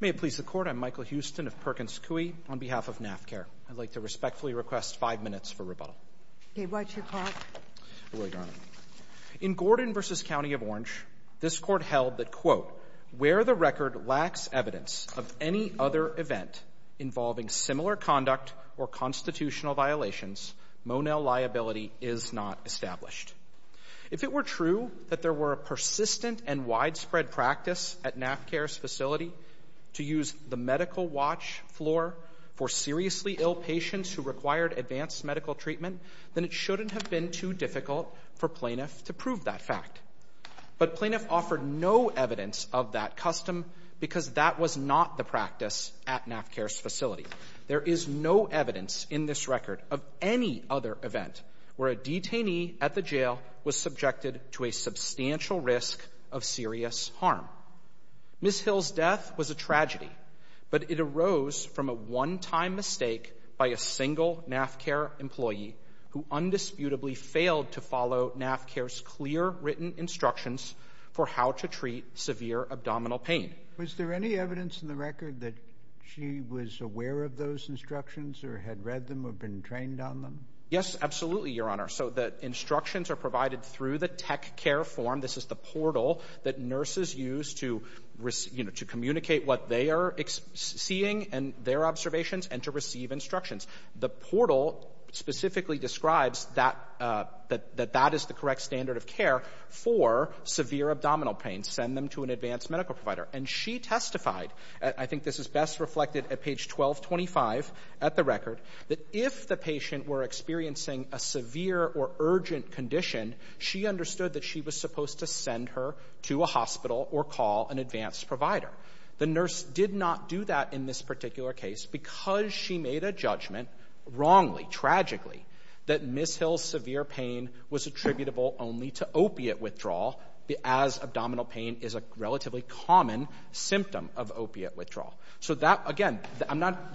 May it please the Court, I'm Michael Huston of Perkins Coie, on behalf of NaphCare. I'd like to respectfully request five minutes for rebuttal. Okay, why don't you pause? I will, Your Honor. In Gordon v. County of Orange, this Court held that, where the record lacks evidence of any other event involving similar conduct or constitutional violations, Monell liability is not established. If it were true that there were a persistent and widespread practice at NaphCare's facility to use the medical watch floor for seriously ill patients who required advanced medical treatment, then it shouldn't have been too difficult for plaintiff to prove that fact. But plaintiff offered no evidence of that custom because that was not the practice at NaphCare's facility. There is no evidence in this record of any other event where a detainee at the jail was subjected to a substantial risk of serious harm. Ms. Hill's death was a tragedy, but it arose from a one-time mistake by a single NaphCare employee who undisputably failed to follow NaphCare's clear written instructions for how to treat severe abdominal pain. Was there any evidence in the record that she was aware of those instructions or had read them or been trained on them? Yes, absolutely, Your Honor. So the instructions are provided through the tech care form. This is the portal that nurses use to communicate what they are seeing and their observations and to receive instructions. The portal specifically describes that that is the correct standard of care for severe abdominal pain. You can send them to an advanced medical provider. And she testified, I think this is best reflected at page 1225 at the record, that if the patient were experiencing a severe or urgent condition, she understood that she was supposed to send her to a hospital or call an advanced provider. The nurse did not do that in this particular case because she made a judgment wrongly, tragically, that Ms. Hill's severe pain was attributable only to opiate withdrawal as abdominal pain is a relatively common symptom of opiate withdrawal. So that, again,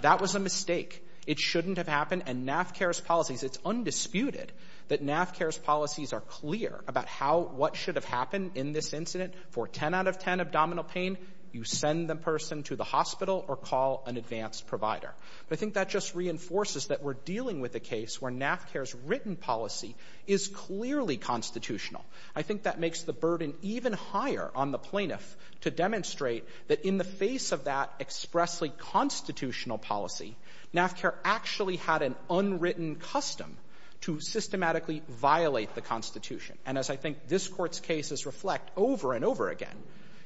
that was a mistake. It shouldn't have happened, and NaphCare's policies, it's undisputed that NaphCare's policies are clear about what should have happened in this incident. For 10 out of 10 abdominal pain, you send the person to the hospital or call an advanced provider. But I think that just reinforces that we're dealing with a case where NaphCare's written policy is clearly constitutional. I think that makes the burden even higher on the plaintiff to demonstrate that in the face of that expressly constitutional policy, NaphCare actually had an unwritten custom to systematically violate the Constitution. And as I think this Court's cases reflect over and over again,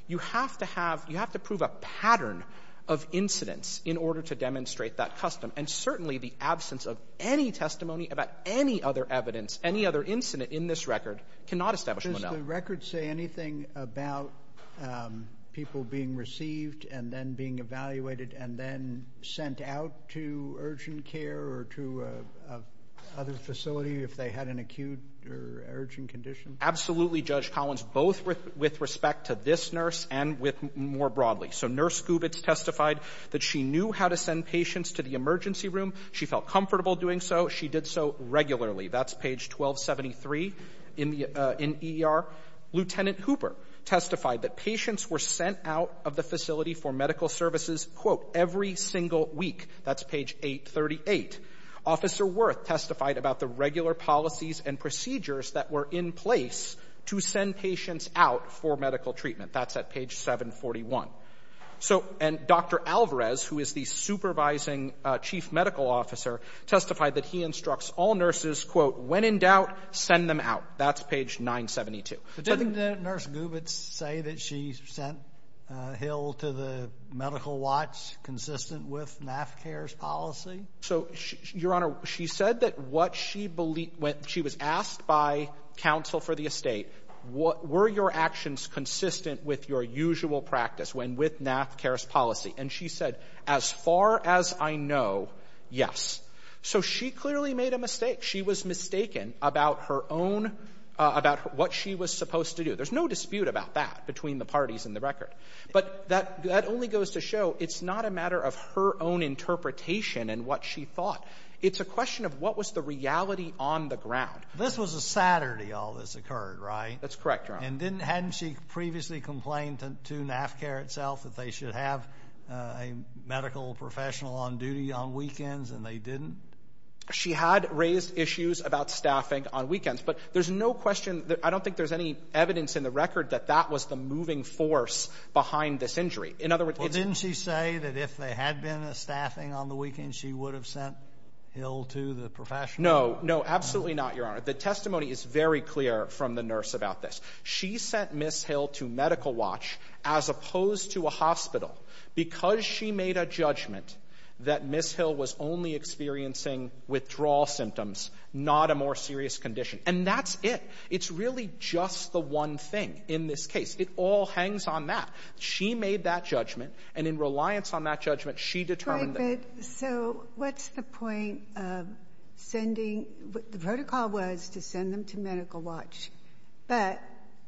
you have to prove a pattern of incidents in order to demonstrate that custom. And certainly the absence of any testimony about any other evidence, any other incident in this record cannot establish Monell. Does the record say anything about people being received and then being evaluated and then sent out to urgent care or to other facility if they had an acute or urgent condition? Absolutely, Judge Collins, both with respect to this nurse and with more broadly. So Nurse Gubitz testified that she knew how to send patients to the emergency room. She felt comfortable doing so. She did so regularly. That's page 1273 in the ER. Lieutenant Hooper testified that patients were sent out of the facility for medical services, quote, every single week. That's page 838. Officer Worth testified about the regular policies and procedures that were in place to send patients out for medical treatment. That's at page 741. And Dr. Alvarez, who is the supervising chief medical officer, testified that he instructs all nurses, quote, when in doubt, send them out. That's page 972. Didn't Nurse Gubitz say that she sent Hill to the medical watch consistent with NaphCare's policy? So, Your Honor, she said that what she believed when she was asked by counsel for the estate, were your actions consistent with your usual practice when with NaphCare's policy? And she said, as far as I know, yes. So she clearly made a mistake. She was mistaken about her own – about what she was supposed to do. There's no dispute about that between the parties in the record. But that only goes to show it's not a matter of her own interpretation and what she thought. It's a question of what was the reality on the ground. This was a Saturday all this occurred, right? That's correct, Your Honor. And didn't – hadn't she previously complained to NaphCare itself that they should have a medical professional on duty on weekends and they didn't? She had raised issues about staffing on weekends. But there's no question – I don't think there's any evidence in the record that that was the moving force behind this injury. In other words, it's – Well, didn't she say that if there had been a staffing on the weekend, she would have sent Hill to the professional? No. No, absolutely not, Your Honor. The testimony is very clear from the nurse about this. She sent Ms. Hill to medical watch as opposed to a hospital because she made a judgment that Ms. Hill was only experiencing withdrawal symptoms, not a more serious condition. And that's it. It's really just the one thing in this case. It all hangs on that. She made that judgment. And in reliance on that judgment, she determined that. But so what's the point of sending – the protocol was to send them to medical watch. But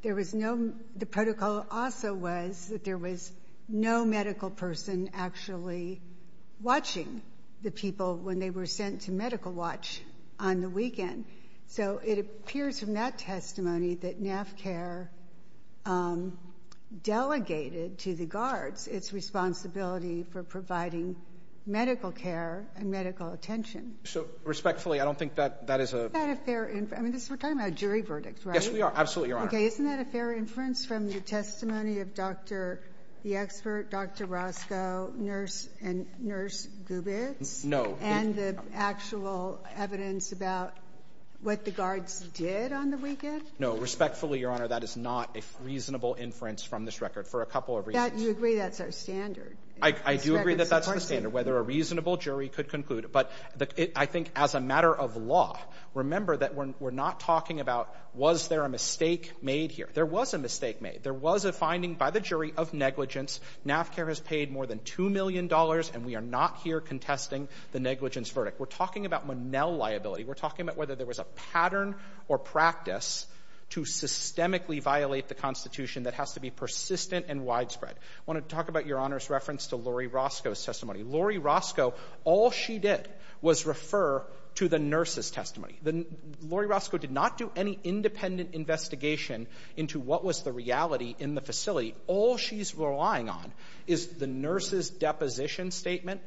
there was no – the protocol also was that there was no medical person actually watching the people when they were sent to medical watch on the weekend. So it appears from that testimony that NAFCARE delegated to the guards its responsibility for providing medical care and medical attention. So respectfully, I don't think that that is a – Isn't that a fair – I mean, we're talking about a jury verdict, right? Yes, we are. Absolutely, Your Honor. Okay, isn't that a fair inference from the testimony of Dr. – the expert, Dr. Roscoe, nurse – and nurse Gubitz? No. And the actual evidence about what the guards did on the weekend? No. Respectfully, Your Honor, that is not a reasonable inference from this record for a couple of reasons. You agree that's our standard? I do agree that that's the standard, whether a reasonable jury could conclude. But I think as a matter of law, remember that we're not talking about was there a mistake made here. There was a mistake made. There was a finding by the jury of negligence. NAFCARE has paid more than $2 million, and we are not here contesting the negligence verdict. We're talking about Monell liability. We're talking about whether there was a pattern or practice to systemically violate the Constitution that has to be persistent and widespread. I want to talk about Your Honor's reference to Laurie Roscoe's testimony. Laurie Roscoe, all she did was refer to the nurse's testimony. Laurie Roscoe did not do any independent investigation into what was the reality in the facility. All she's relying on is the nurse's deposition statement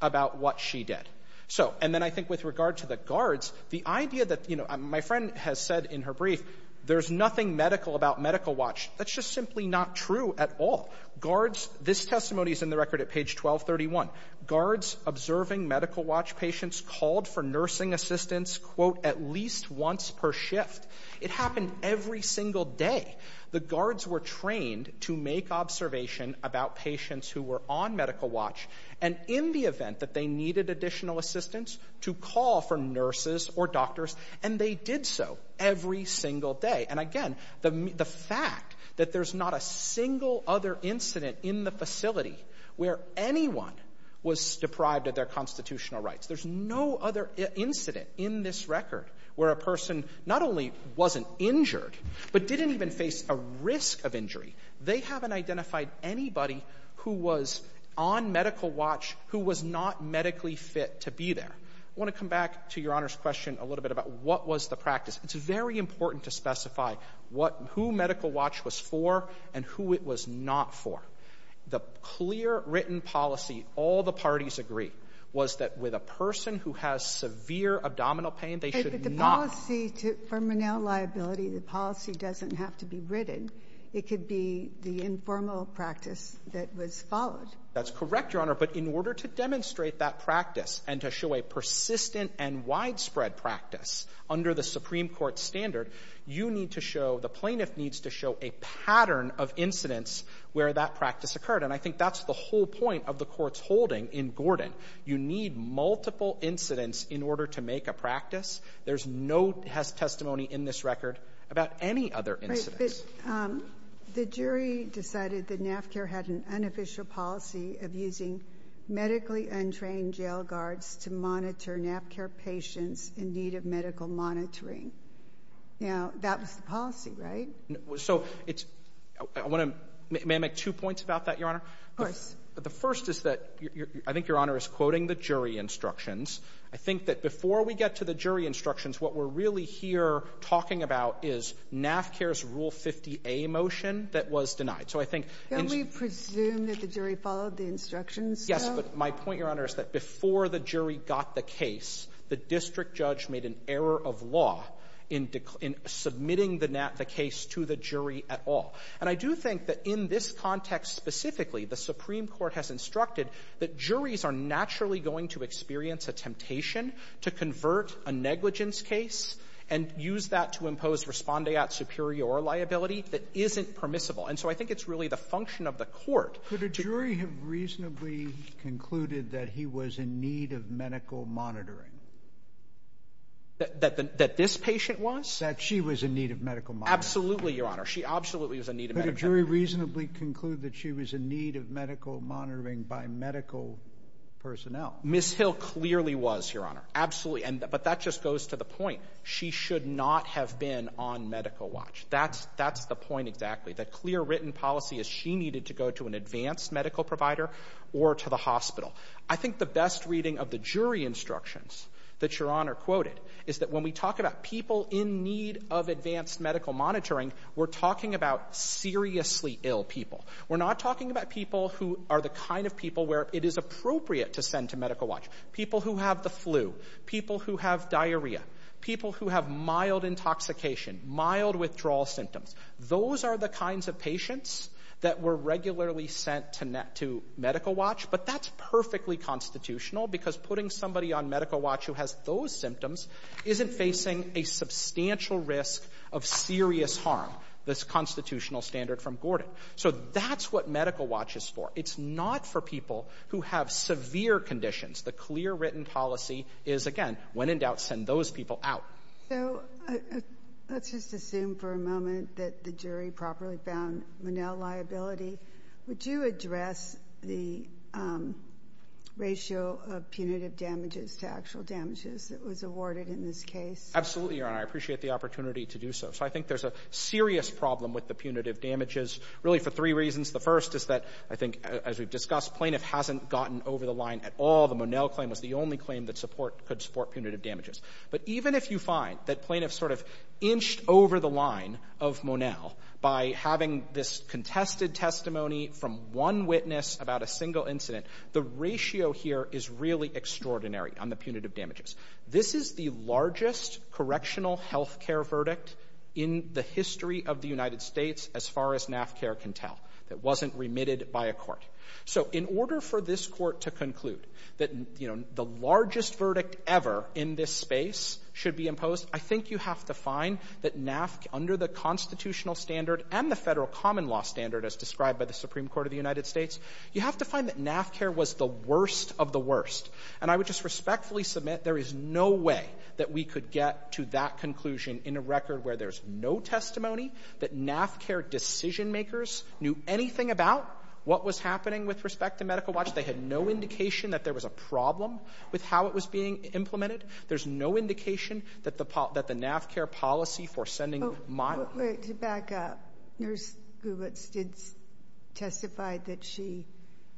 about what she did. So, and then I think with regard to the guards, the idea that, you know, my friend has said in her brief, there's nothing medical about Medical Watch. That's just simply not true at all. Guards, this testimony is in the record at page 1231. Guards observing Medical Watch patients called for nursing assistants, quote, at least once per shift. It happened every single day. The guards were trained to make observation about patients who were on Medical Watch and in the event that they needed additional assistance, to call for nurses or doctors, and they did so every single day. And again, the fact that there's not a single other incident in the facility where anyone was deprived of their constitutional rights, there's no other incident in this record where a person not only wasn't injured but didn't even face a risk of injury, they haven't identified anybody who was on Medical Watch who was not medically fit to be there. I want to come back to Your Honor's question a little bit about what was the practice. It's very important to specify who Medical Watch was for and who it was not for. The clear written policy, all the parties agree, was that with a person who has severe abdominal pain they should not The policy for Menil liability, the policy doesn't have to be written. It could be the informal practice that was followed. That's correct, Your Honor. But in order to demonstrate that practice and to show a persistent and widespread practice under the Supreme Court standard, you need to show, the plaintiff needs to show, a pattern of incidents where that practice occurred. And I think that's the whole point of the court's holding in Gordon. You need multiple incidents in order to make a practice. There's no testimony in this record about any other incidents. Right, but the jury decided that NAFCAIR had an unofficial policy of using medically untrained jail guards to monitor NAFCAIR patients in need of medical monitoring. Now, that was the policy, right? So, it's, I want to, may I make two points about that, Your Honor? Of course. The first is that, I think Your Honor is quoting the jury instructions. I think that before we get to the jury instructions, what we're really here talking about is NAFCAIR's Rule 50A motion that was denied. So, I think. Can we presume that the jury followed the instructions, though? Yes, but my point, Your Honor, is that before the jury got the case, the district judge made an error of law in submitting the case to the jury at all. And I do think that in this context specifically, the Supreme Court has instructed that juries are naturally going to experience a temptation to convert a negligence case and use that to impose respondeat superior liability that isn't permissible. And so, I think it's really the function of the court. Could a jury have reasonably concluded that he was in need of medical monitoring? That this patient was? That she was in need of medical monitoring. Absolutely, Your Honor. She absolutely was in need of medical monitoring. Could a jury reasonably conclude that she was in need of medical monitoring by medical personnel? Ms. Hill clearly was, Your Honor. Absolutely. But that just goes to the point. She should not have been on medical watch. That's the point exactly. The clear written policy is she needed to go to an advanced medical provider or to the hospital. I think the best reading of the jury instructions that Your Honor quoted is that when we talk about people in need of advanced medical monitoring, we're talking about seriously ill people. We're not talking about people who are the kind of people where it is appropriate to send to medical watch. People who have the flu. People who have diarrhea. People who have mild intoxication. Mild withdrawal symptoms. Those are the kinds of patients that were regularly sent to medical watch. But that's perfectly constitutional because putting somebody on medical watch who has those symptoms isn't facing a substantial risk of serious harm, this constitutional standard from Gordon. So that's what medical watch is for. It's not for people who have severe conditions. The clear written policy is, again, when in doubt, send those people out. So let's just assume for a moment that the jury properly found Monell liability. Would you address the ratio of punitive damages to actual damages that was awarded in this case? Absolutely, Your Honor. I appreciate the opportunity to do so. So I think there's a serious problem with the punitive damages, really for three reasons. The first is that I think, as we've discussed, plaintiff hasn't gotten over the line at all. The Monell claim was the only claim that could support punitive damages. But even if you find that plaintiff sort of inched over the line of Monell by having this contested testimony from one witness about a single incident, the ratio here is really extraordinary on the punitive damages. This is the largest correctional health care verdict in the history of the United States as far as NAFCA can tell. It wasn't remitted by a court. So in order for this court to conclude that, you know, the largest verdict ever in this space should be imposed, I think you have to find that NAFCA, under the constitutional standard and the federal common law standard as described by the Supreme Court of the United States, you have to find that NAFCA was the worst of the worst. And I would just respectfully submit there is no way that we could get to that conclusion in a record where there's no testimony that NAFCA decision makers knew anything about what was happening with respect to Medical Watch. They had no indication that there was a problem with how it was being implemented. There's no indication that the NAFCA policy for sending Monell. To back up, Nurse Gubitz did testify that she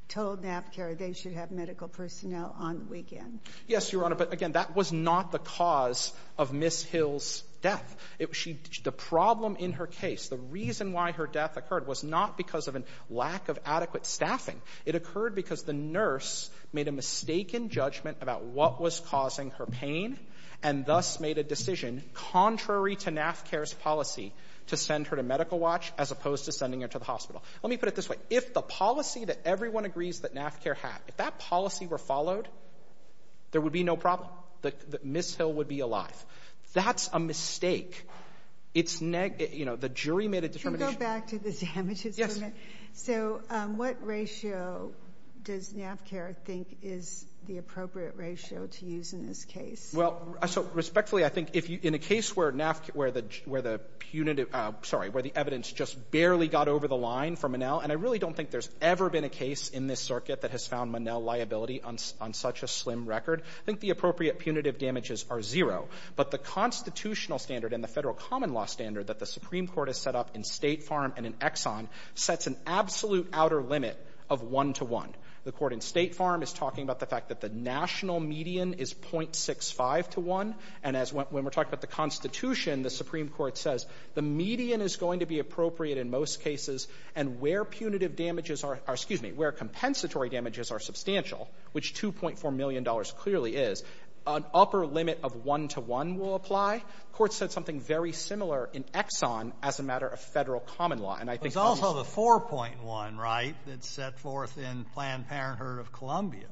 told NAFCA they should have medical personnel on the weekend. Yes, Your Honor. But again, that was not the cause of Ms. Hill's death. The problem in her case, the reason why her death occurred was not because of a lack of adequate staffing. It occurred because the nurse made a mistaken judgment about what was causing her pain and thus made a decision contrary to NAFCA's policy to send her to Medical Watch as opposed to sending her to the hospital. Let me put it this way. If the policy that everyone agrees that NAFCA had, if that policy were followed, there would be no problem. Ms. Hill would be alive. That's a mistake. The jury made a determination. Can we go back to the damages? Yes. What ratio does NAFCA think is the appropriate ratio to use in this case? Respectfully, I think in a case where the evidence just barely got over the line for Monell, and I really don't think there's ever been a case in this circuit that has found Monell liability on such a slim record, I think the appropriate punitive damages are zero. But the constitutional standard and the Federal common law standard that the Supreme Court has set up in State Farm and in Exxon sets an absolute outer limit of one to one. The Court in State Farm is talking about the fact that the national median is .65 to one, and as when we're talking about the Constitution, the Supreme Court says the median is going to be appropriate in most cases, and where punitive damages are — excuse me, where compensatory damages are substantial, which $2.4 million clearly is, an upper limit of one to one will apply. The Court said something very similar in Exxon as a matter of Federal common law, and I think that's — But it's also the 4.1, right, that's set forth in Planned Parenthood of Columbia,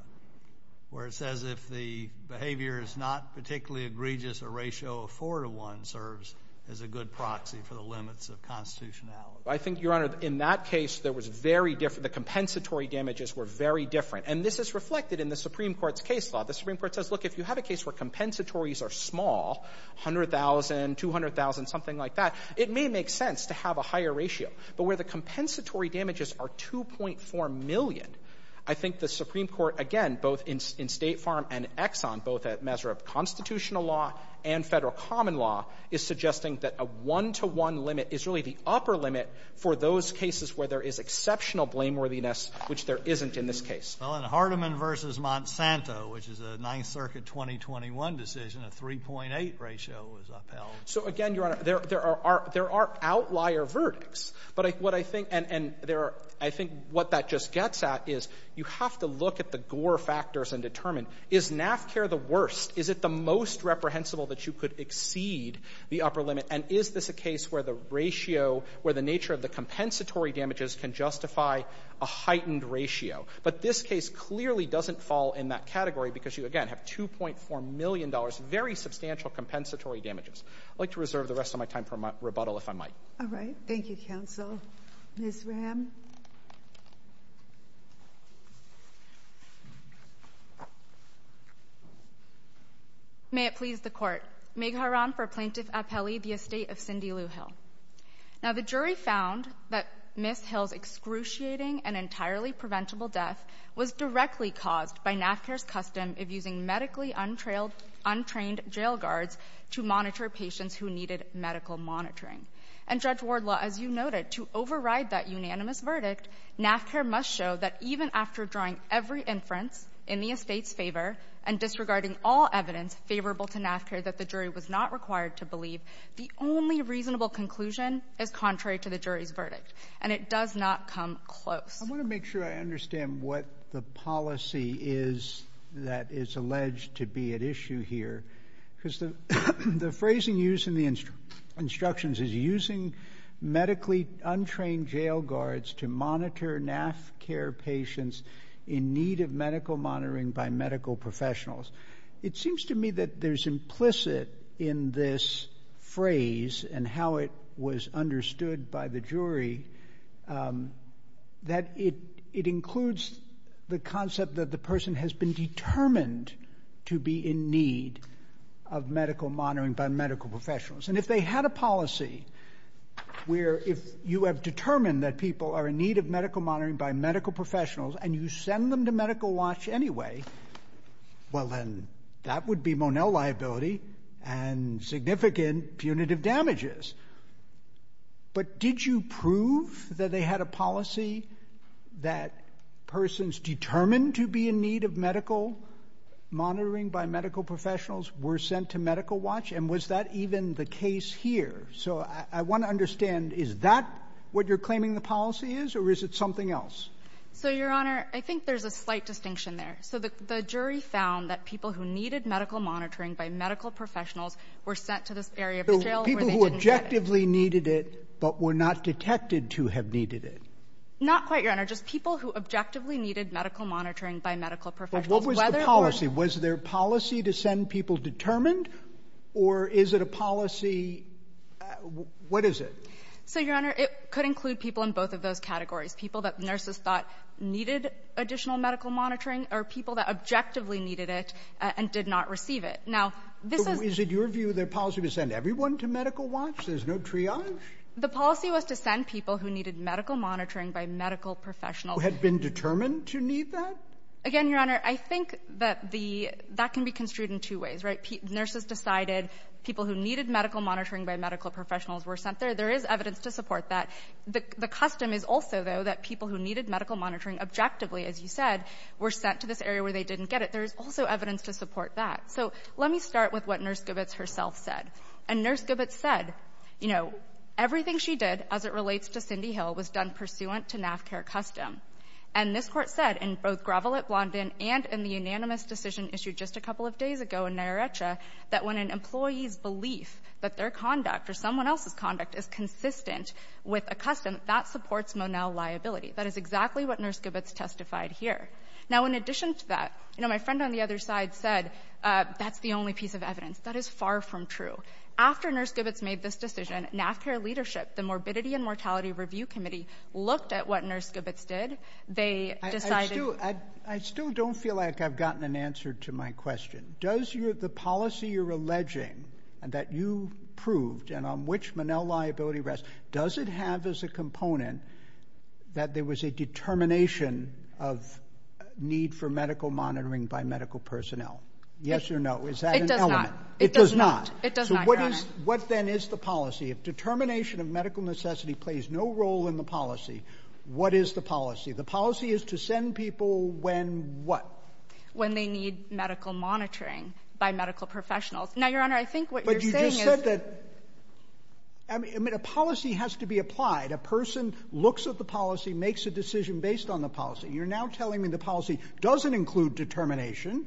where it says if the behavior is not particularly egregious, a ratio of four to one serves as a good proxy for the limits of constitutionality. I think, Your Honor, in that case there was very — the compensatory damages were very different. And this is reflected in the Supreme Court's case law. The Supreme Court says, look, if you have a case where compensatories are small, $100,000, $200,000, something like that, it may make sense to have a higher ratio. But where the compensatory damages are 2.4 million, I think the Supreme Court, again, both in State Farm and Exxon, both at measure of constitutional law and Federal common law, is suggesting that a one-to-one limit is really the upper limit for those cases where there is exceptional blameworthiness, which there isn't in this case. Well, in Hardeman v. Monsanto, which is a Ninth Circuit 2021 decision, a 3.8 ratio was upheld. So, again, Your Honor, there are — there are outlier verdicts. But what I think — and there are — I think what that just gets at is you have to look at the Gore factors and determine, is NAFCAIR the worst? Is it the most reprehensible that you could exceed the upper limit? And is this a case where the ratio — where the nature of the compensatory damages can justify a heightened ratio? But this case clearly doesn't fall in that category because you, again, have $2.4 million, very substantial compensatory damages. I'd like to reserve the rest of my time for rebuttal, if I might. All right. Thank you, counsel. Ms. Ram? May it please the Court. Meg Haran for Plaintiff Appelli, the estate of Cindy Lujan. Now, the jury found that Ms. Hill's excruciating and entirely preventable death was directly caused by NAFCAIR's custom of using medically untrained jail guards to monitor patients who needed medical monitoring. And, Judge Wardlaw, as you noted, to override that unanimous verdict, NAFCAIR must show that even after drawing every inference in the estate's favor and disregarding all evidence favorable to NAFCAIR that the jury was not required to believe, the only reasonable conclusion is contrary to the jury's verdict. And it does not come close. I want to make sure I understand what the policy is that is alleged to be at issue here. Because the phrasing used in the instructions is, using medically untrained jail guards to monitor NAFCAIR patients in need of medical monitoring by medical professionals. It seems to me that there's implicit in this phrase and how it was understood by the medical monitoring by medical professionals. And if they had a policy where if you have determined that people are in need of medical monitoring by medical professionals and you send them to medical watch anyway, well, then that would be Monell liability and significant punitive damages. But did you prove that they had a policy that persons determined to be in need of medical monitoring by medical professionals were sent to medical watch? And was that even the case here? So I want to understand, is that what you're claiming the policy is? Or is it something else? So, Your Honor, I think there's a slight distinction there. So the jury found that people who needed medical monitoring by medical professionals were sent to this area of the jail where they didn't get it. People who objectively needed it but were not detected to have needed it? Not quite, Your Honor. Just people who objectively needed medical monitoring by medical professionals. What was the policy? Was there policy to send people determined? Or is it a policy? What is it? So, Your Honor, it could include people in both of those categories, people that nurses thought needed additional medical monitoring or people that objectively needed it and did not receive it. Now, this is. Is it your view their policy to send everyone to medical watch? There's no triage? The policy was to send people who needed medical monitoring by medical professionals. Who had been determined to need that? Again, Your Honor, I think that the — that can be construed in two ways, right? Nurses decided people who needed medical monitoring by medical professionals were sent there. There is evidence to support that. The custom is also, though, that people who needed medical monitoring objectively, as you said, were sent to this area where they didn't get it. There is also evidence to support that. So let me start with what Nurse Gobitz herself said. And Nurse Gobitz said, you know, everything she did as it relates to Cindy Hill was done pursuant to NAFCAIR custom. And this court said in both Gravelet-Blondin and in the unanimous decision issued just a couple of days ago in Nyarrecha that when an employee's belief that their conduct or someone else's conduct is consistent with a custom, that supports Monell liability. That is exactly what Nurse Gobitz testified here. Now, in addition to that, you know, my friend on the other side said that's the only piece of evidence. That is far from true. After Nurse Gobitz made this decision, NAFCAIR leadership, the Morbidity and Mortality Review Committee looked at what Nurse Gobitz did. They decided... I still don't feel like I've gotten an answer to my question. Does the policy you're alleging and that you proved and on which Monell liability rests, does it have as a component that there was a determination of need for medical monitoring by medical personnel? Yes or no? Is that an element? It does not. It does not, Your Honor. So what then is the policy? If determination of medical necessity plays no role in the policy, what is the policy? The policy is to send people when what? When they need medical monitoring by medical professionals. Now, Your Honor, I think what you're saying is... But you just said that... I mean, a policy has to be applied. A person looks at the policy, makes a decision based on the policy. You're now telling me the policy doesn't include determination,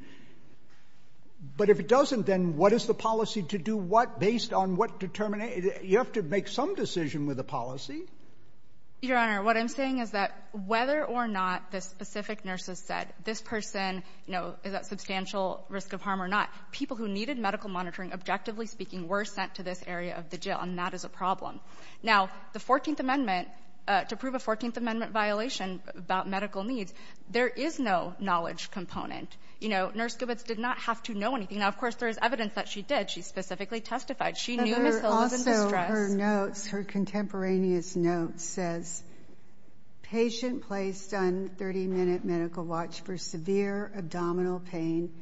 but if it doesn't, then what is the policy to do what based on what determination? You have to make some decision with the policy. Your Honor, what I'm saying is that whether or not the specific nurses said, this person, you know, is at substantial risk of harm or not, people who needed medical monitoring, objectively speaking, were sent to this area of the jail, and that is a problem. Now, the 14th Amendment, to prove a 14th Amendment violation about medical needs, there is no knowledge component. You know, Nurse Gobitz did not have to know anything. Now, of course, there is evidence that she did. She specifically testified. She knew Ms. Hill was in distress. Also, her notes, her contemporaneous notes says, patient placed on 30-minute medical watch for severe abdominal pain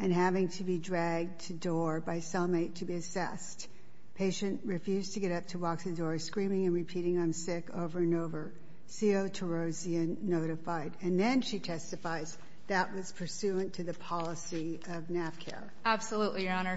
and having to be dragged to door by cellmate to be assessed. Patient refused to get up to walk through the door, screaming and repeating, I'm sick, over and over. CO to Roseanne notified. And then she testifies that was pursuant to the policy of NAFCA. Absolutely, Your Honor.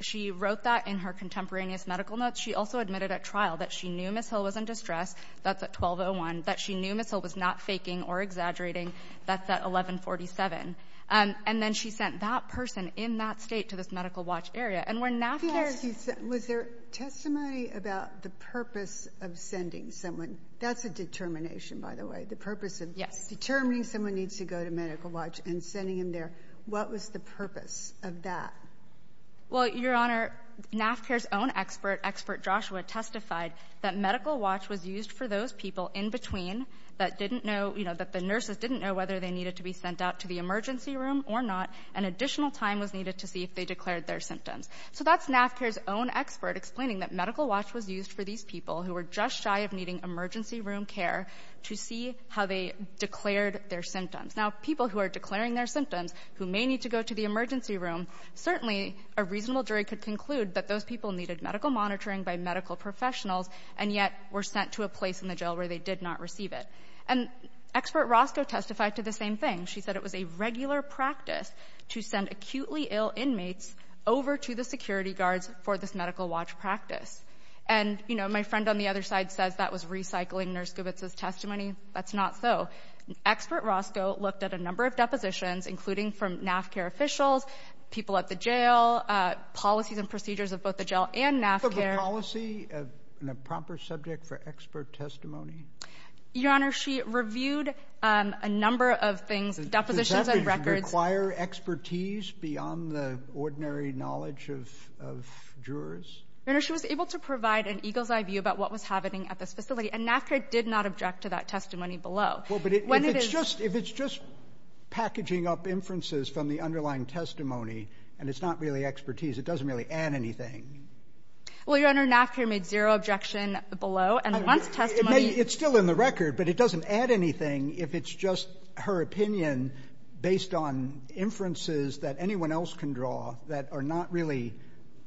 She wrote that in her contemporaneous medical notes. She also admitted at trial that she knew Ms. Hill was in distress. That's at 12-01. That she knew Ms. Hill was not faking or exaggerating. That's at 11-47. And then she sent that person in that state to this medical watch area. And where NAFCA is— Was there testimony about the purpose of sending someone? That's a determination, by the way. The purpose of determining someone needs to go to medical watch and sending them there. What was the purpose of that? Well, Your Honor, NAFCA's own expert, Expert Joshua, testified that medical watch was used for those people in between that the nurses didn't know whether they needed to be sent out to the emergency room or not, and additional time was needed to see if they declared their symptoms. So that's NAFCA's own expert explaining that medical watch was used for these people who were just shy of needing emergency room care to see how they declared their symptoms. Now, people who are declaring their symptoms who may need to go to the emergency room, certainly a reasonable jury could conclude that those people needed medical monitoring by medical professionals and yet were sent to a place in the jail where they did not receive it. And Expert Roscoe testified to the same thing. She said it was a regular practice to send acutely ill inmates over to the security guards for this medical watch practice. And, you know, my friend on the other side says that was recycling Nurse Gubitz's testimony. That's not so. Expert Roscoe looked at a number of depositions, including from NAFCA officials, people at the jail, policies and procedures of both the jail and NAFCA. Was the policy a proper subject for expert testimony? Your Honor, she reviewed a number of things, depositions and records. Does that require expertise beyond the ordinary knowledge of jurors? Your Honor, she was able to provide an eagle's eye view about what was happening at this facility, and NAFCA did not object to that testimony below. Well, but if it's just packaging up inferences from the underlying testimony and it's not really expertise, it doesn't really add anything. Well, Your Honor, NAFCA made zero objection below. And once testimony It's still in the record, but it doesn't add anything if it's just her opinion based on inferences that anyone else can draw that are not really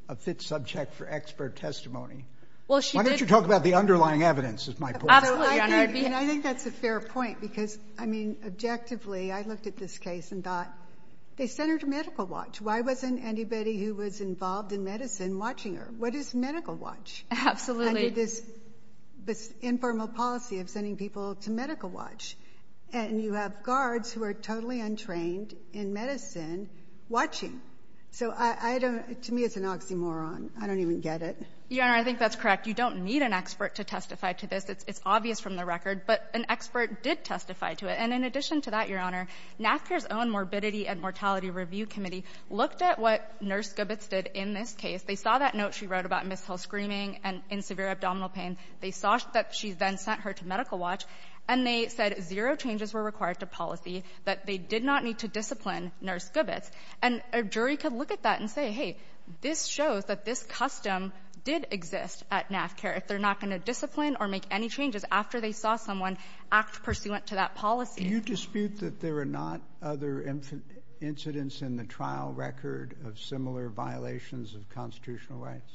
a fit subject for expert testimony. Why don't you talk about the underlying evidence, is my point. Absolutely, Your Honor. I think that's a fair point because, I mean, objectively, I looked at this case and thought, they sent her to medical watch. Why wasn't anybody who was involved in medicine watching her? What is medical watch? Absolutely. This informal policy of sending people to medical watch. And you have guards who are totally untrained in medicine watching. So to me, it's an oxymoron. I don't even get it. Your Honor, I think that's correct. You don't need an expert to testify to this. It's obvious from the record. But an expert did testify to it. And in addition to that, Your Honor, NAFCA's own Morbidity and Mortality Review Committee looked at what Nurse Gobitz did in this case. They saw that note she wrote about Ms. Hill screaming and in severe abdominal pain. They saw that she then sent her to medical watch. And they said zero changes were required to policy, that they did not need to discipline Nurse Gobitz. And a jury could look at that and say, hey, this shows that this custom did exist at NAFCA. If they're not going to discipline or make any changes after they saw someone act pursuant to that policy. Do you dispute that there are not other incidents in the trial record of similar violations of constitutional rights?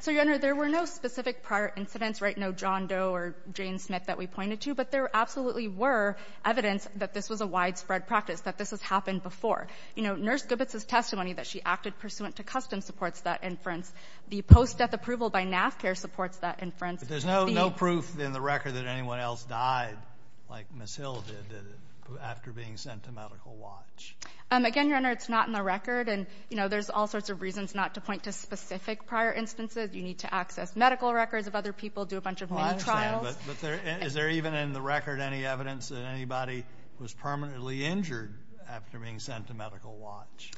So, Your Honor, there were no specific prior incidents. Right? No John Doe or Jane Smith that we pointed to. But there absolutely were evidence that this was a widespread practice, that this has happened before. You know, Nurse Gobitz's testimony that she acted pursuant to custom supports that inference. The post-death approval by NAFCA supports that inference. But there's no proof in the record that anyone else died like Ms. Hill did after being sent to medical watch. Again, Your Honor, it's not in the record. And, you know, there's all sorts of reasons not to point to specific prior instances. You need to access medical records of other people, do a bunch of many trials. But is there even in the record any evidence that anybody was permanently injured after being sent to medical watch?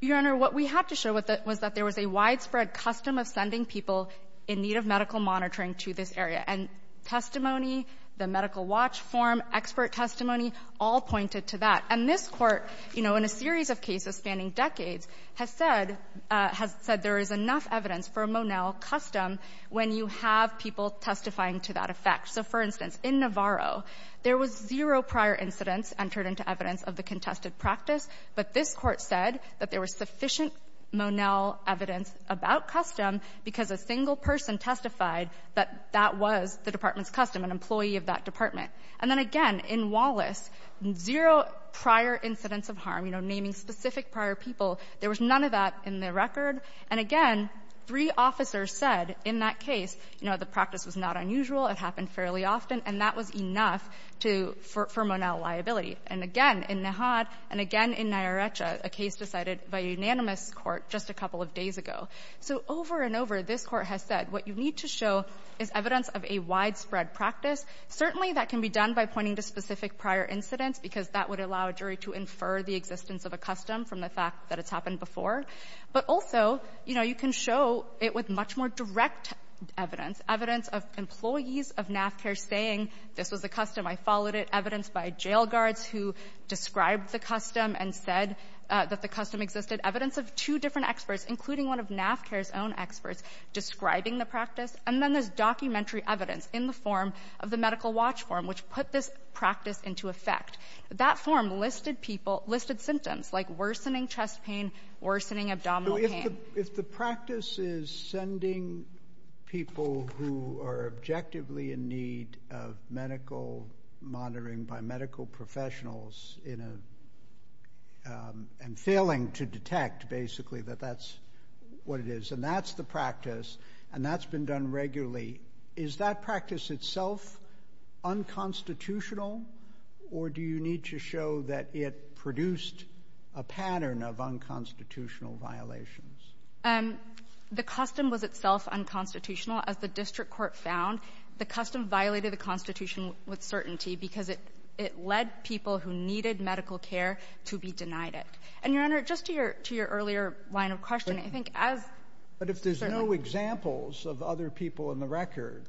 Your Honor, what we had to show was that there was a widespread custom of sending people in need of medical monitoring to this area. And testimony, the medical watch form, expert testimony all pointed to that. And this Court, you know, in a series of cases spanning decades, has said — has said there is enough evidence for a Monell custom when you have people testifying to that effect. So, for instance, in Navarro, there was zero prior incidents entered into evidence of the contested practice, but this Court said that there was sufficient Monell evidence about custom because a single person testified that that was the department's custom, an employee of that department. And then, again, in Wallace, zero prior incidents of harm, you know, naming specific prior people. There was none of that in the record. And, again, three officers said in that case, you know, the practice was not unusual, it happened fairly often, and that was enough to — for Monell liability. And, again, in Nahat and, again, in Nayaritza, a case decided by unanimous court just a couple of days ago. So, over and over, this Court has said what you need to show is evidence of a widespread practice. Certainly, that can be done by pointing to specific prior incidents because that would allow a jury to infer the existence of a custom from the fact that it's happened before. But also, you know, you can show it with much more direct evidence, evidence of employees of NAFCAIR saying this was a custom, I followed it, evidence by jail guards who described the custom and said that the custom existed, evidence of two different experts, including one of NAFCAIR's own experts, describing the practice. And then there's documentary evidence in the form of the medical watch form, which put this practice into effect. That form listed people — listed symptoms, like worsening chest pain, worsening abdominal pain. So if the practice is sending people who are objectively in need of medical monitoring by medical professionals in a — and failing to detect, basically, that that's what it is, and that's the practice, and that's been done regularly, is that practice itself unconstitutional, or do you need to show that it produced a pattern of unconstitutional violations? The custom was itself unconstitutional. As the district court found, the custom violated the Constitution with certainty because it led people who needed medical care to be denied it. And, Your Honor, just to your earlier line of questioning, I think as — But if there's no examples of other people in the record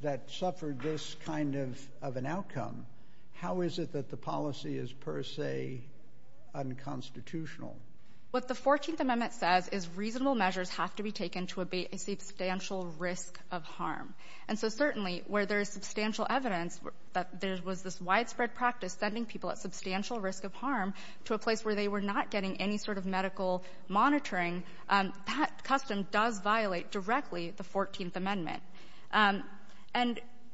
that suffered this kind of an outcome, how is it that the policy is per se unconstitutional? What the 14th Amendment says is reasonable measures have to be taken to abate a substantial risk of harm. And so certainly where there is substantial evidence that there was this widespread practice sending people at substantial risk of harm to a place where they were not getting any sort of medical monitoring, that custom does violate directly the 14th Amendment. And,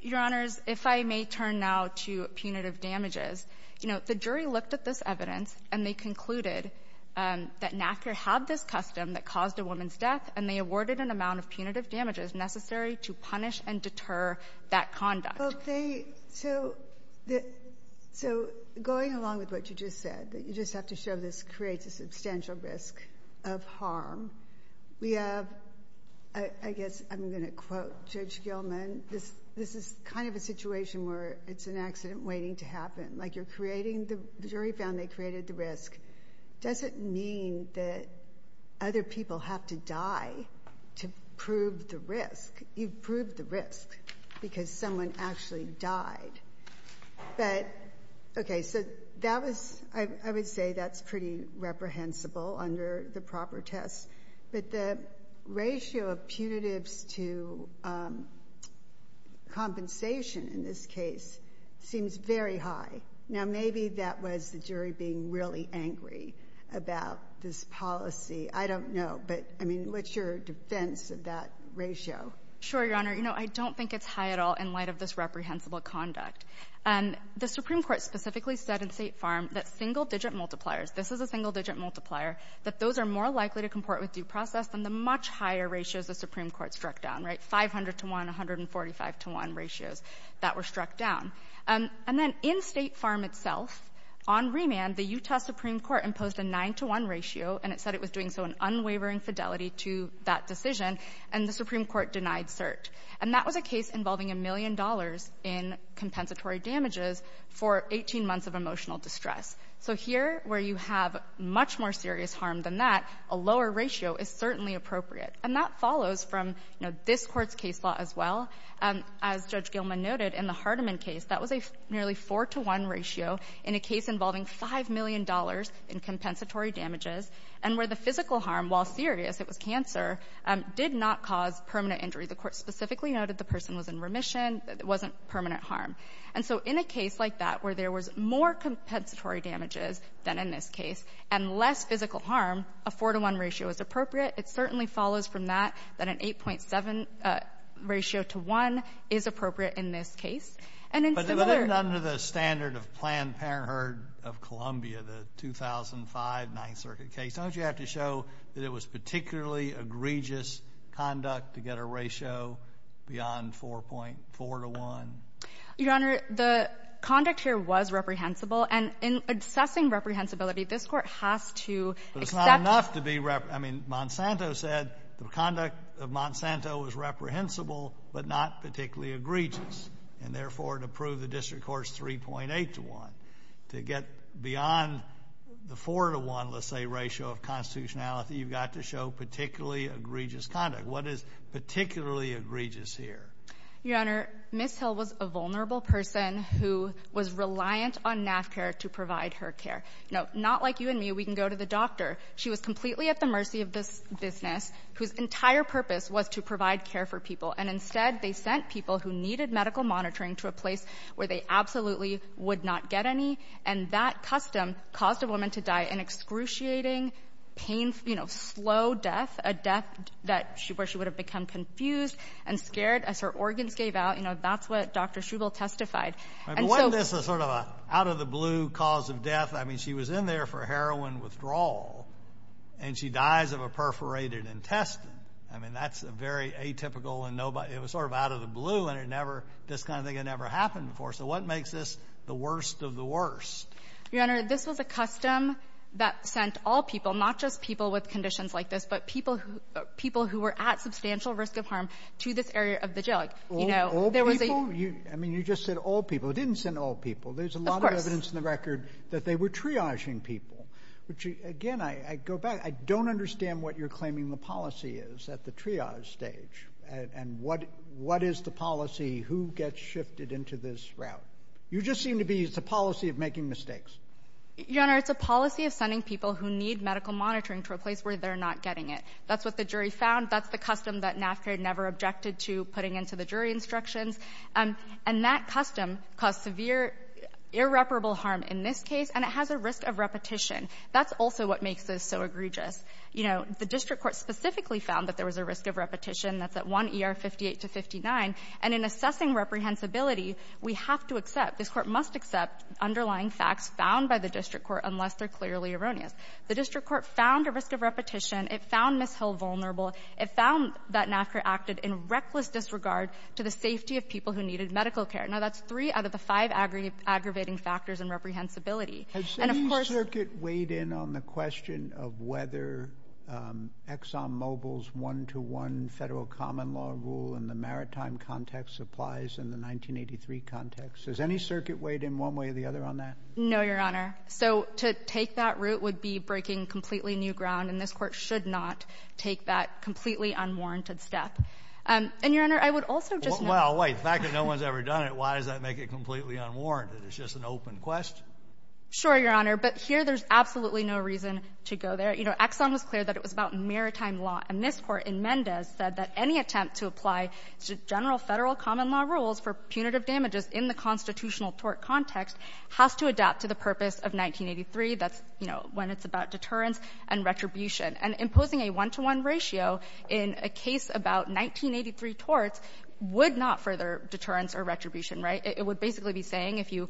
Your Honors, if I may turn now to punitive damages, you know, the jury looked at this evidence, and they concluded that NACCR had this custom that caused a woman's death, and they awarded an amount of punitive damages necessary to punish and deter that conduct. Well, they — so going along with what you just said, that you just have to show this creates a substantial risk of harm, we have — I guess I'm going to quote Judge Gilman. This is kind of a situation where it's an accident waiting to happen. Like you're creating — the jury found they created the risk. It doesn't mean that other people have to die to prove the risk. You've proved the risk because someone actually died. But, okay, so that was — I would say that's pretty reprehensible under the proper tests. But the ratio of punitives to compensation in this case seems very high. Now, maybe that was the jury being really angry about this policy. I don't know. But, I mean, what's your defense of that ratio? Sure, Your Honor. You know, I don't think it's high at all in light of this reprehensible conduct. The Supreme Court specifically said in State Farm that single-digit multipliers — this is a single-digit multiplier — that those are more likely to comport with due process than the much higher ratios the Supreme Court struck down, right, 500-to-1, 145-to-1 ratios that were struck down. And then in State Farm itself, on remand, the Utah Supreme Court imposed a 9-to-1 ratio, and it said it was doing so in unwavering fidelity to that decision, and the Supreme Court denied cert. And that was a case involving a million dollars in compensatory damages for 18 months of emotional distress. So here, where you have much more serious harm than that, a lower ratio is certainly appropriate. And that follows from, you know, this Court's case law as well. As Judge Gilman noted, in the Hardeman case, that was a nearly 4-to-1 ratio in a case involving $5 million in compensatory damages, and where the physical harm, while serious, it was cancer, did not cause permanent injury. The Court specifically noted the person was in remission. It wasn't permanent harm. And so in a case like that, where there was more compensatory damages than in this case and less physical harm, a 4-to-1 ratio is appropriate. It certainly follows from that that an 8.7 ratio to 1 is appropriate in this case. But even under the standard of Planned Parenthood of Columbia, the 2005 Ninth Circuit case, don't you have to show that it was particularly egregious conduct to get a ratio beyond 4.4-to-1? Your Honor, the conduct here was reprehensible. And in assessing reprehensibility, this Court has to accept that. But it's not enough to be – I mean, Monsanto said the conduct of Monsanto was reprehensible but not particularly egregious, and therefore to prove the District Court's 3.8-to-1. To get beyond the 4-to-1, let's say, ratio of constitutionality, you've got to show particularly egregious conduct. What is particularly egregious here? Your Honor, Ms. Hill was a vulnerable person who was reliant on NAFCA to provide her care. Not like you and me, we can go to the doctor. She was completely at the mercy of this business, whose entire purpose was to provide care for people. And instead, they sent people who needed medical monitoring to a place where they absolutely would not get any. And that custom caused a woman to die an excruciating, painful, slow death, a death where she would have become confused and scared as her organs gave out. That's what Dr. Schuble testified. Wasn't this sort of an out-of-the-blue cause of death? I mean, she was in there for heroin withdrawal, and she dies of a perforated intestine. I mean, that's very atypical. It was sort of out of the blue, and this kind of thing had never happened before. So what makes this the worst of the worst? Your Honor, this was a custom that sent all people, not just people with conditions like this, but people who were at substantial risk of harm to this area of the jail. All people? I mean, you just said all people. It didn't send all people. Of course. There's a lot of evidence in the record that they were triaging people. Again, I go back. I don't understand what you're claiming the policy is at the triage stage. And what is the policy? Who gets shifted into this route? You just seem to be, it's a policy of making mistakes. Your Honor, it's a policy of sending people who need medical monitoring to a place where they're not getting it. That's what the jury found. That's the custom that NAFTA never objected to putting into the jury instructions. And that custom caused severe irreparable harm in this case, and it has a risk of repetition. That's also what makes this so egregious. You know, the district court specifically found that there was a risk of repetition. That's at 1 E.R. 58-59. And in assessing reprehensibility, we have to accept, this Court must accept, underlying facts found by the district court unless they're clearly erroneous. The district court found a risk of repetition. It found Ms. Hill vulnerable. It found that NAFTA acted in reckless disregard to the safety of people who needed medical care. Now, that's three out of the five aggravating factors in reprehensibility. Has any circuit weighed in on the question of whether ExxonMobil's one-to-one federal common law rule in the maritime context applies in the 1983 context? Has any circuit weighed in one way or the other on that? No, Your Honor. So to take that route would be breaking completely new ground, and this Court should not take that completely unwarranted step. And, Your Honor, I would also just note — Well, wait. The fact that no one's ever done it, why does that make it completely unwarranted? It's just an open question. Sure, Your Honor. But here, there's absolutely no reason to go there. You know, Exxon was clear that it was about maritime law. And this Court in Mendez said that any attempt to apply general federal common law rules for punitive damages in the constitutional tort context has to adapt to the purpose of 1983. That's, you know, when it's about deterrence and retribution. And imposing a one-to-one ratio in a case about 1983 torts would not further deterrence or retribution, right? It would basically be saying if you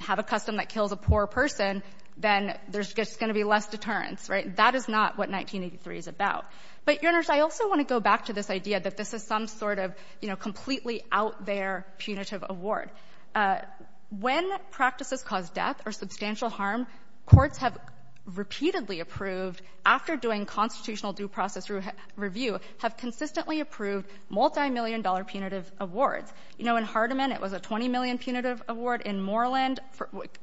have a custom that kills a poor person, then there's going to be less deterrence, right? That is not what 1983 is about. But, Your Honor, I also want to go back to this idea that this is some sort of, you know, completely out-there punitive award. When practices cause death or substantial harm, courts have repeatedly approved, after doing constitutional due process review, have consistently approved multimillion-dollar punitive awards. You know, in Hardiman, it was a $20 million punitive award. In Moreland,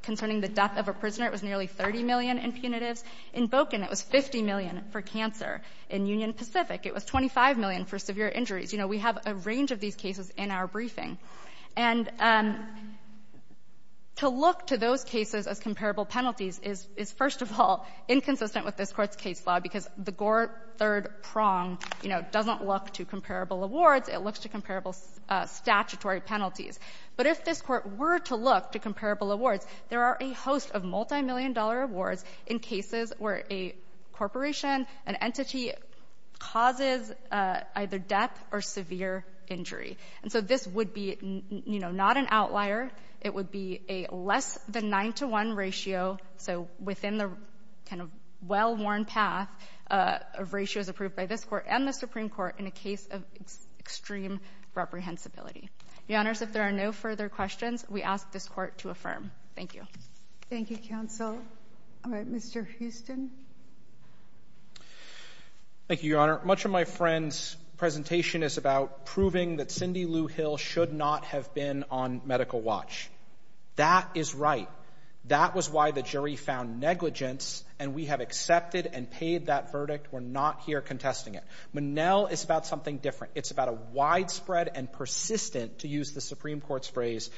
concerning the death of a prisoner, it was nearly $30 million in punitives. In Boken, it was $50 million for cancer. In Union Pacific, it was $25 million for severe injuries. You know, we have a range of these cases in our briefing. And to look to those cases as comparable penalties is, first of all, inconsistent with this Court's case law, because the Gore third prong, you know, doesn't look to comparable awards. It looks to comparable statutory penalties. But if this Court were to look to comparable awards, there are a host of multimillion-dollar awards in cases where a corporation, an entity, causes either death or severe injury. And so this would be, you know, not an outlier. It would be a less than 9 to 1 ratio, so within the kind of well-worn path of ratios approved by this Court and the Supreme Court in a case of extreme reprehensibility. Your Honors, if there are no further questions, we ask this Court to affirm. Thank you. Thank you, Counsel. All right, Mr. Houston. Thank you, Your Honor. Much of my friend's presentation is about proving that Cindy Lou Hill should not have been on medical watch. That is right. That was why the jury found negligence, and we have accepted and paid that verdict. We're not here contesting it. Monell is about something different. It's about a widespread and persistent, to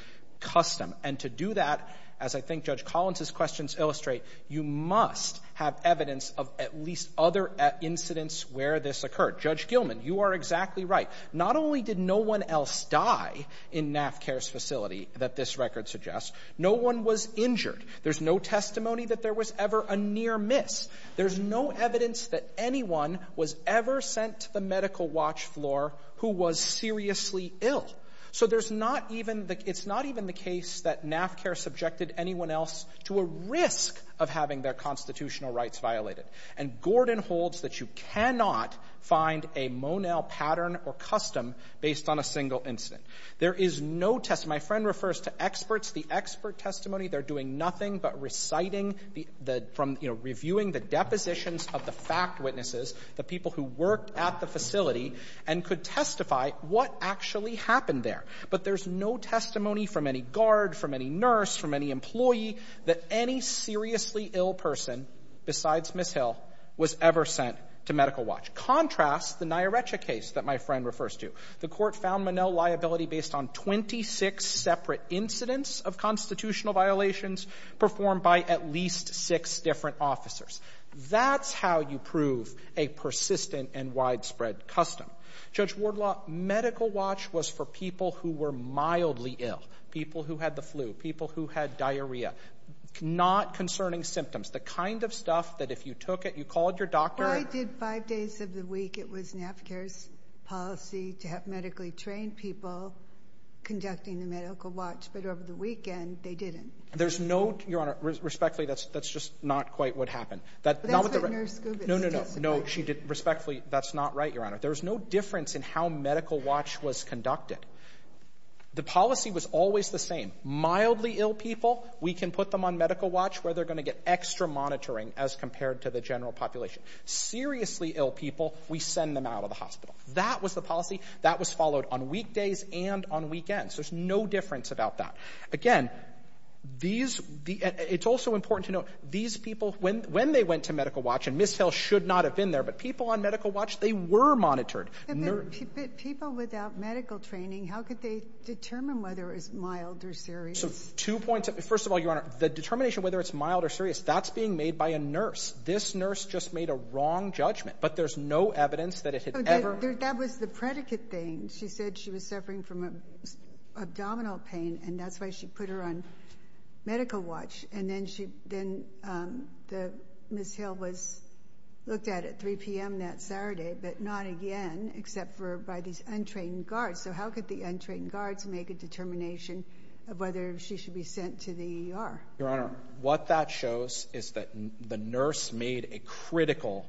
I think Judge Collins' questions illustrate, you must have evidence of at least other incidents where this occurred. Judge Gilman, you are exactly right. Not only did no one else die in NAFCARE's facility that this record suggests, no one was injured. There's no testimony that there was ever a near miss. There's no evidence that anyone was ever sent to the medical watch floor who was seriously ill. So there's not even the case that NAFCARE subjected anyone else to a risk of having their constitutional rights violated. And Gordon holds that you cannot find a Monell pattern or custom based on a single incident. There is no testimony. My friend refers to experts, the expert testimony. They're doing nothing but reciting the — from, you know, reviewing the depositions of the fact witnesses, the people who worked at the facility, and could testify what actually happened there. But there's no testimony from any guard, from any nurse, from any employee, that any seriously ill person, besides Miss Hill, was ever sent to medical watch. Contrast the Nyaretja case that my friend refers to. The court found Monell liability based on 26 separate incidents of constitutional violations performed by at least six different officers. That's how you prove a persistent and widespread custom. Judge Wardlaw, medical watch was for people who were mildly ill. People who had the flu. People who had diarrhea. Not concerning symptoms. The kind of stuff that if you took it, you called your doctor — Well, I did five days of the week. It was NAFCARE's policy to have medically trained people conducting the medical watch. But over the weekend, they didn't. There's no — Your Honor, respectfully, that's just not quite what happened. That's what Nurse Gubitz said yesterday. No, she didn't. Respectfully, that's not right, Your Honor. There's no difference in how medical watch was conducted. The policy was always the same. Mildly ill people, we can put them on medical watch where they're going to get extra monitoring as compared to the general population. Seriously ill people, we send them out of the hospital. That was the policy. That was followed on weekdays and on weekends. There's no difference about that. Again, these — it's also important to note, these people, when they went to medical watch — and Ms. Hill should not have been there, but people on medical watch, they were monitored. But people without medical training, how could they determine whether it was mild or serious? Two points. First of all, Your Honor, the determination whether it's mild or serious, that's being made by a nurse. This nurse just made a wrong judgment. But there's no evidence that it had ever — That was the predicate thing. She said she was suffering from abdominal pain, and that's why she put her on medical watch. And then she — then the — Ms. Hill was looked at at 3 p.m. that Saturday, but not again, except for by these untrained guards. So how could the untrained guards make a determination of whether she should be sent to the ER? Your Honor, what that shows is that the nurse made a critical,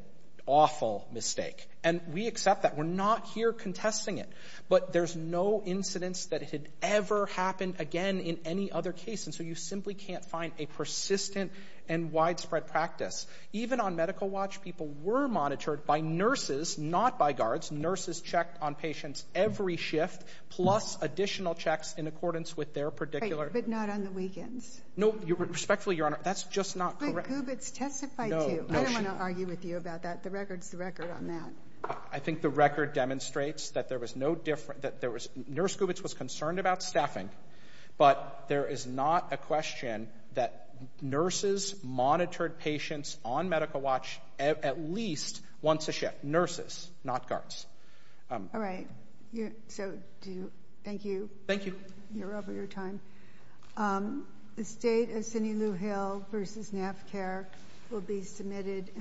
awful mistake. And we accept that. We're not here contesting it. But there's no incidence that it had ever happened again in any other case. And so you simply can't find a persistent and widespread practice. Even on medical watch, people were monitored by nurses, not by guards. Nurses checked on patients every shift, plus additional checks in accordance with their particular — But not on the weekends. No. Respectfully, Your Honor, that's just not correct. But Gubitz testified, too. No. No, she — I don't want to argue with you about that. The record's the record on that. I think the record demonstrates that there was no different — that there was — Nurse checked. But there is not a question that nurses monitored patients on medical watch at least once a shift. Nurses, not guards. All right. So do you — thank you. Thank you. You're over your time. The State of Sinulu Hill v. NAFCARE will be submitted and will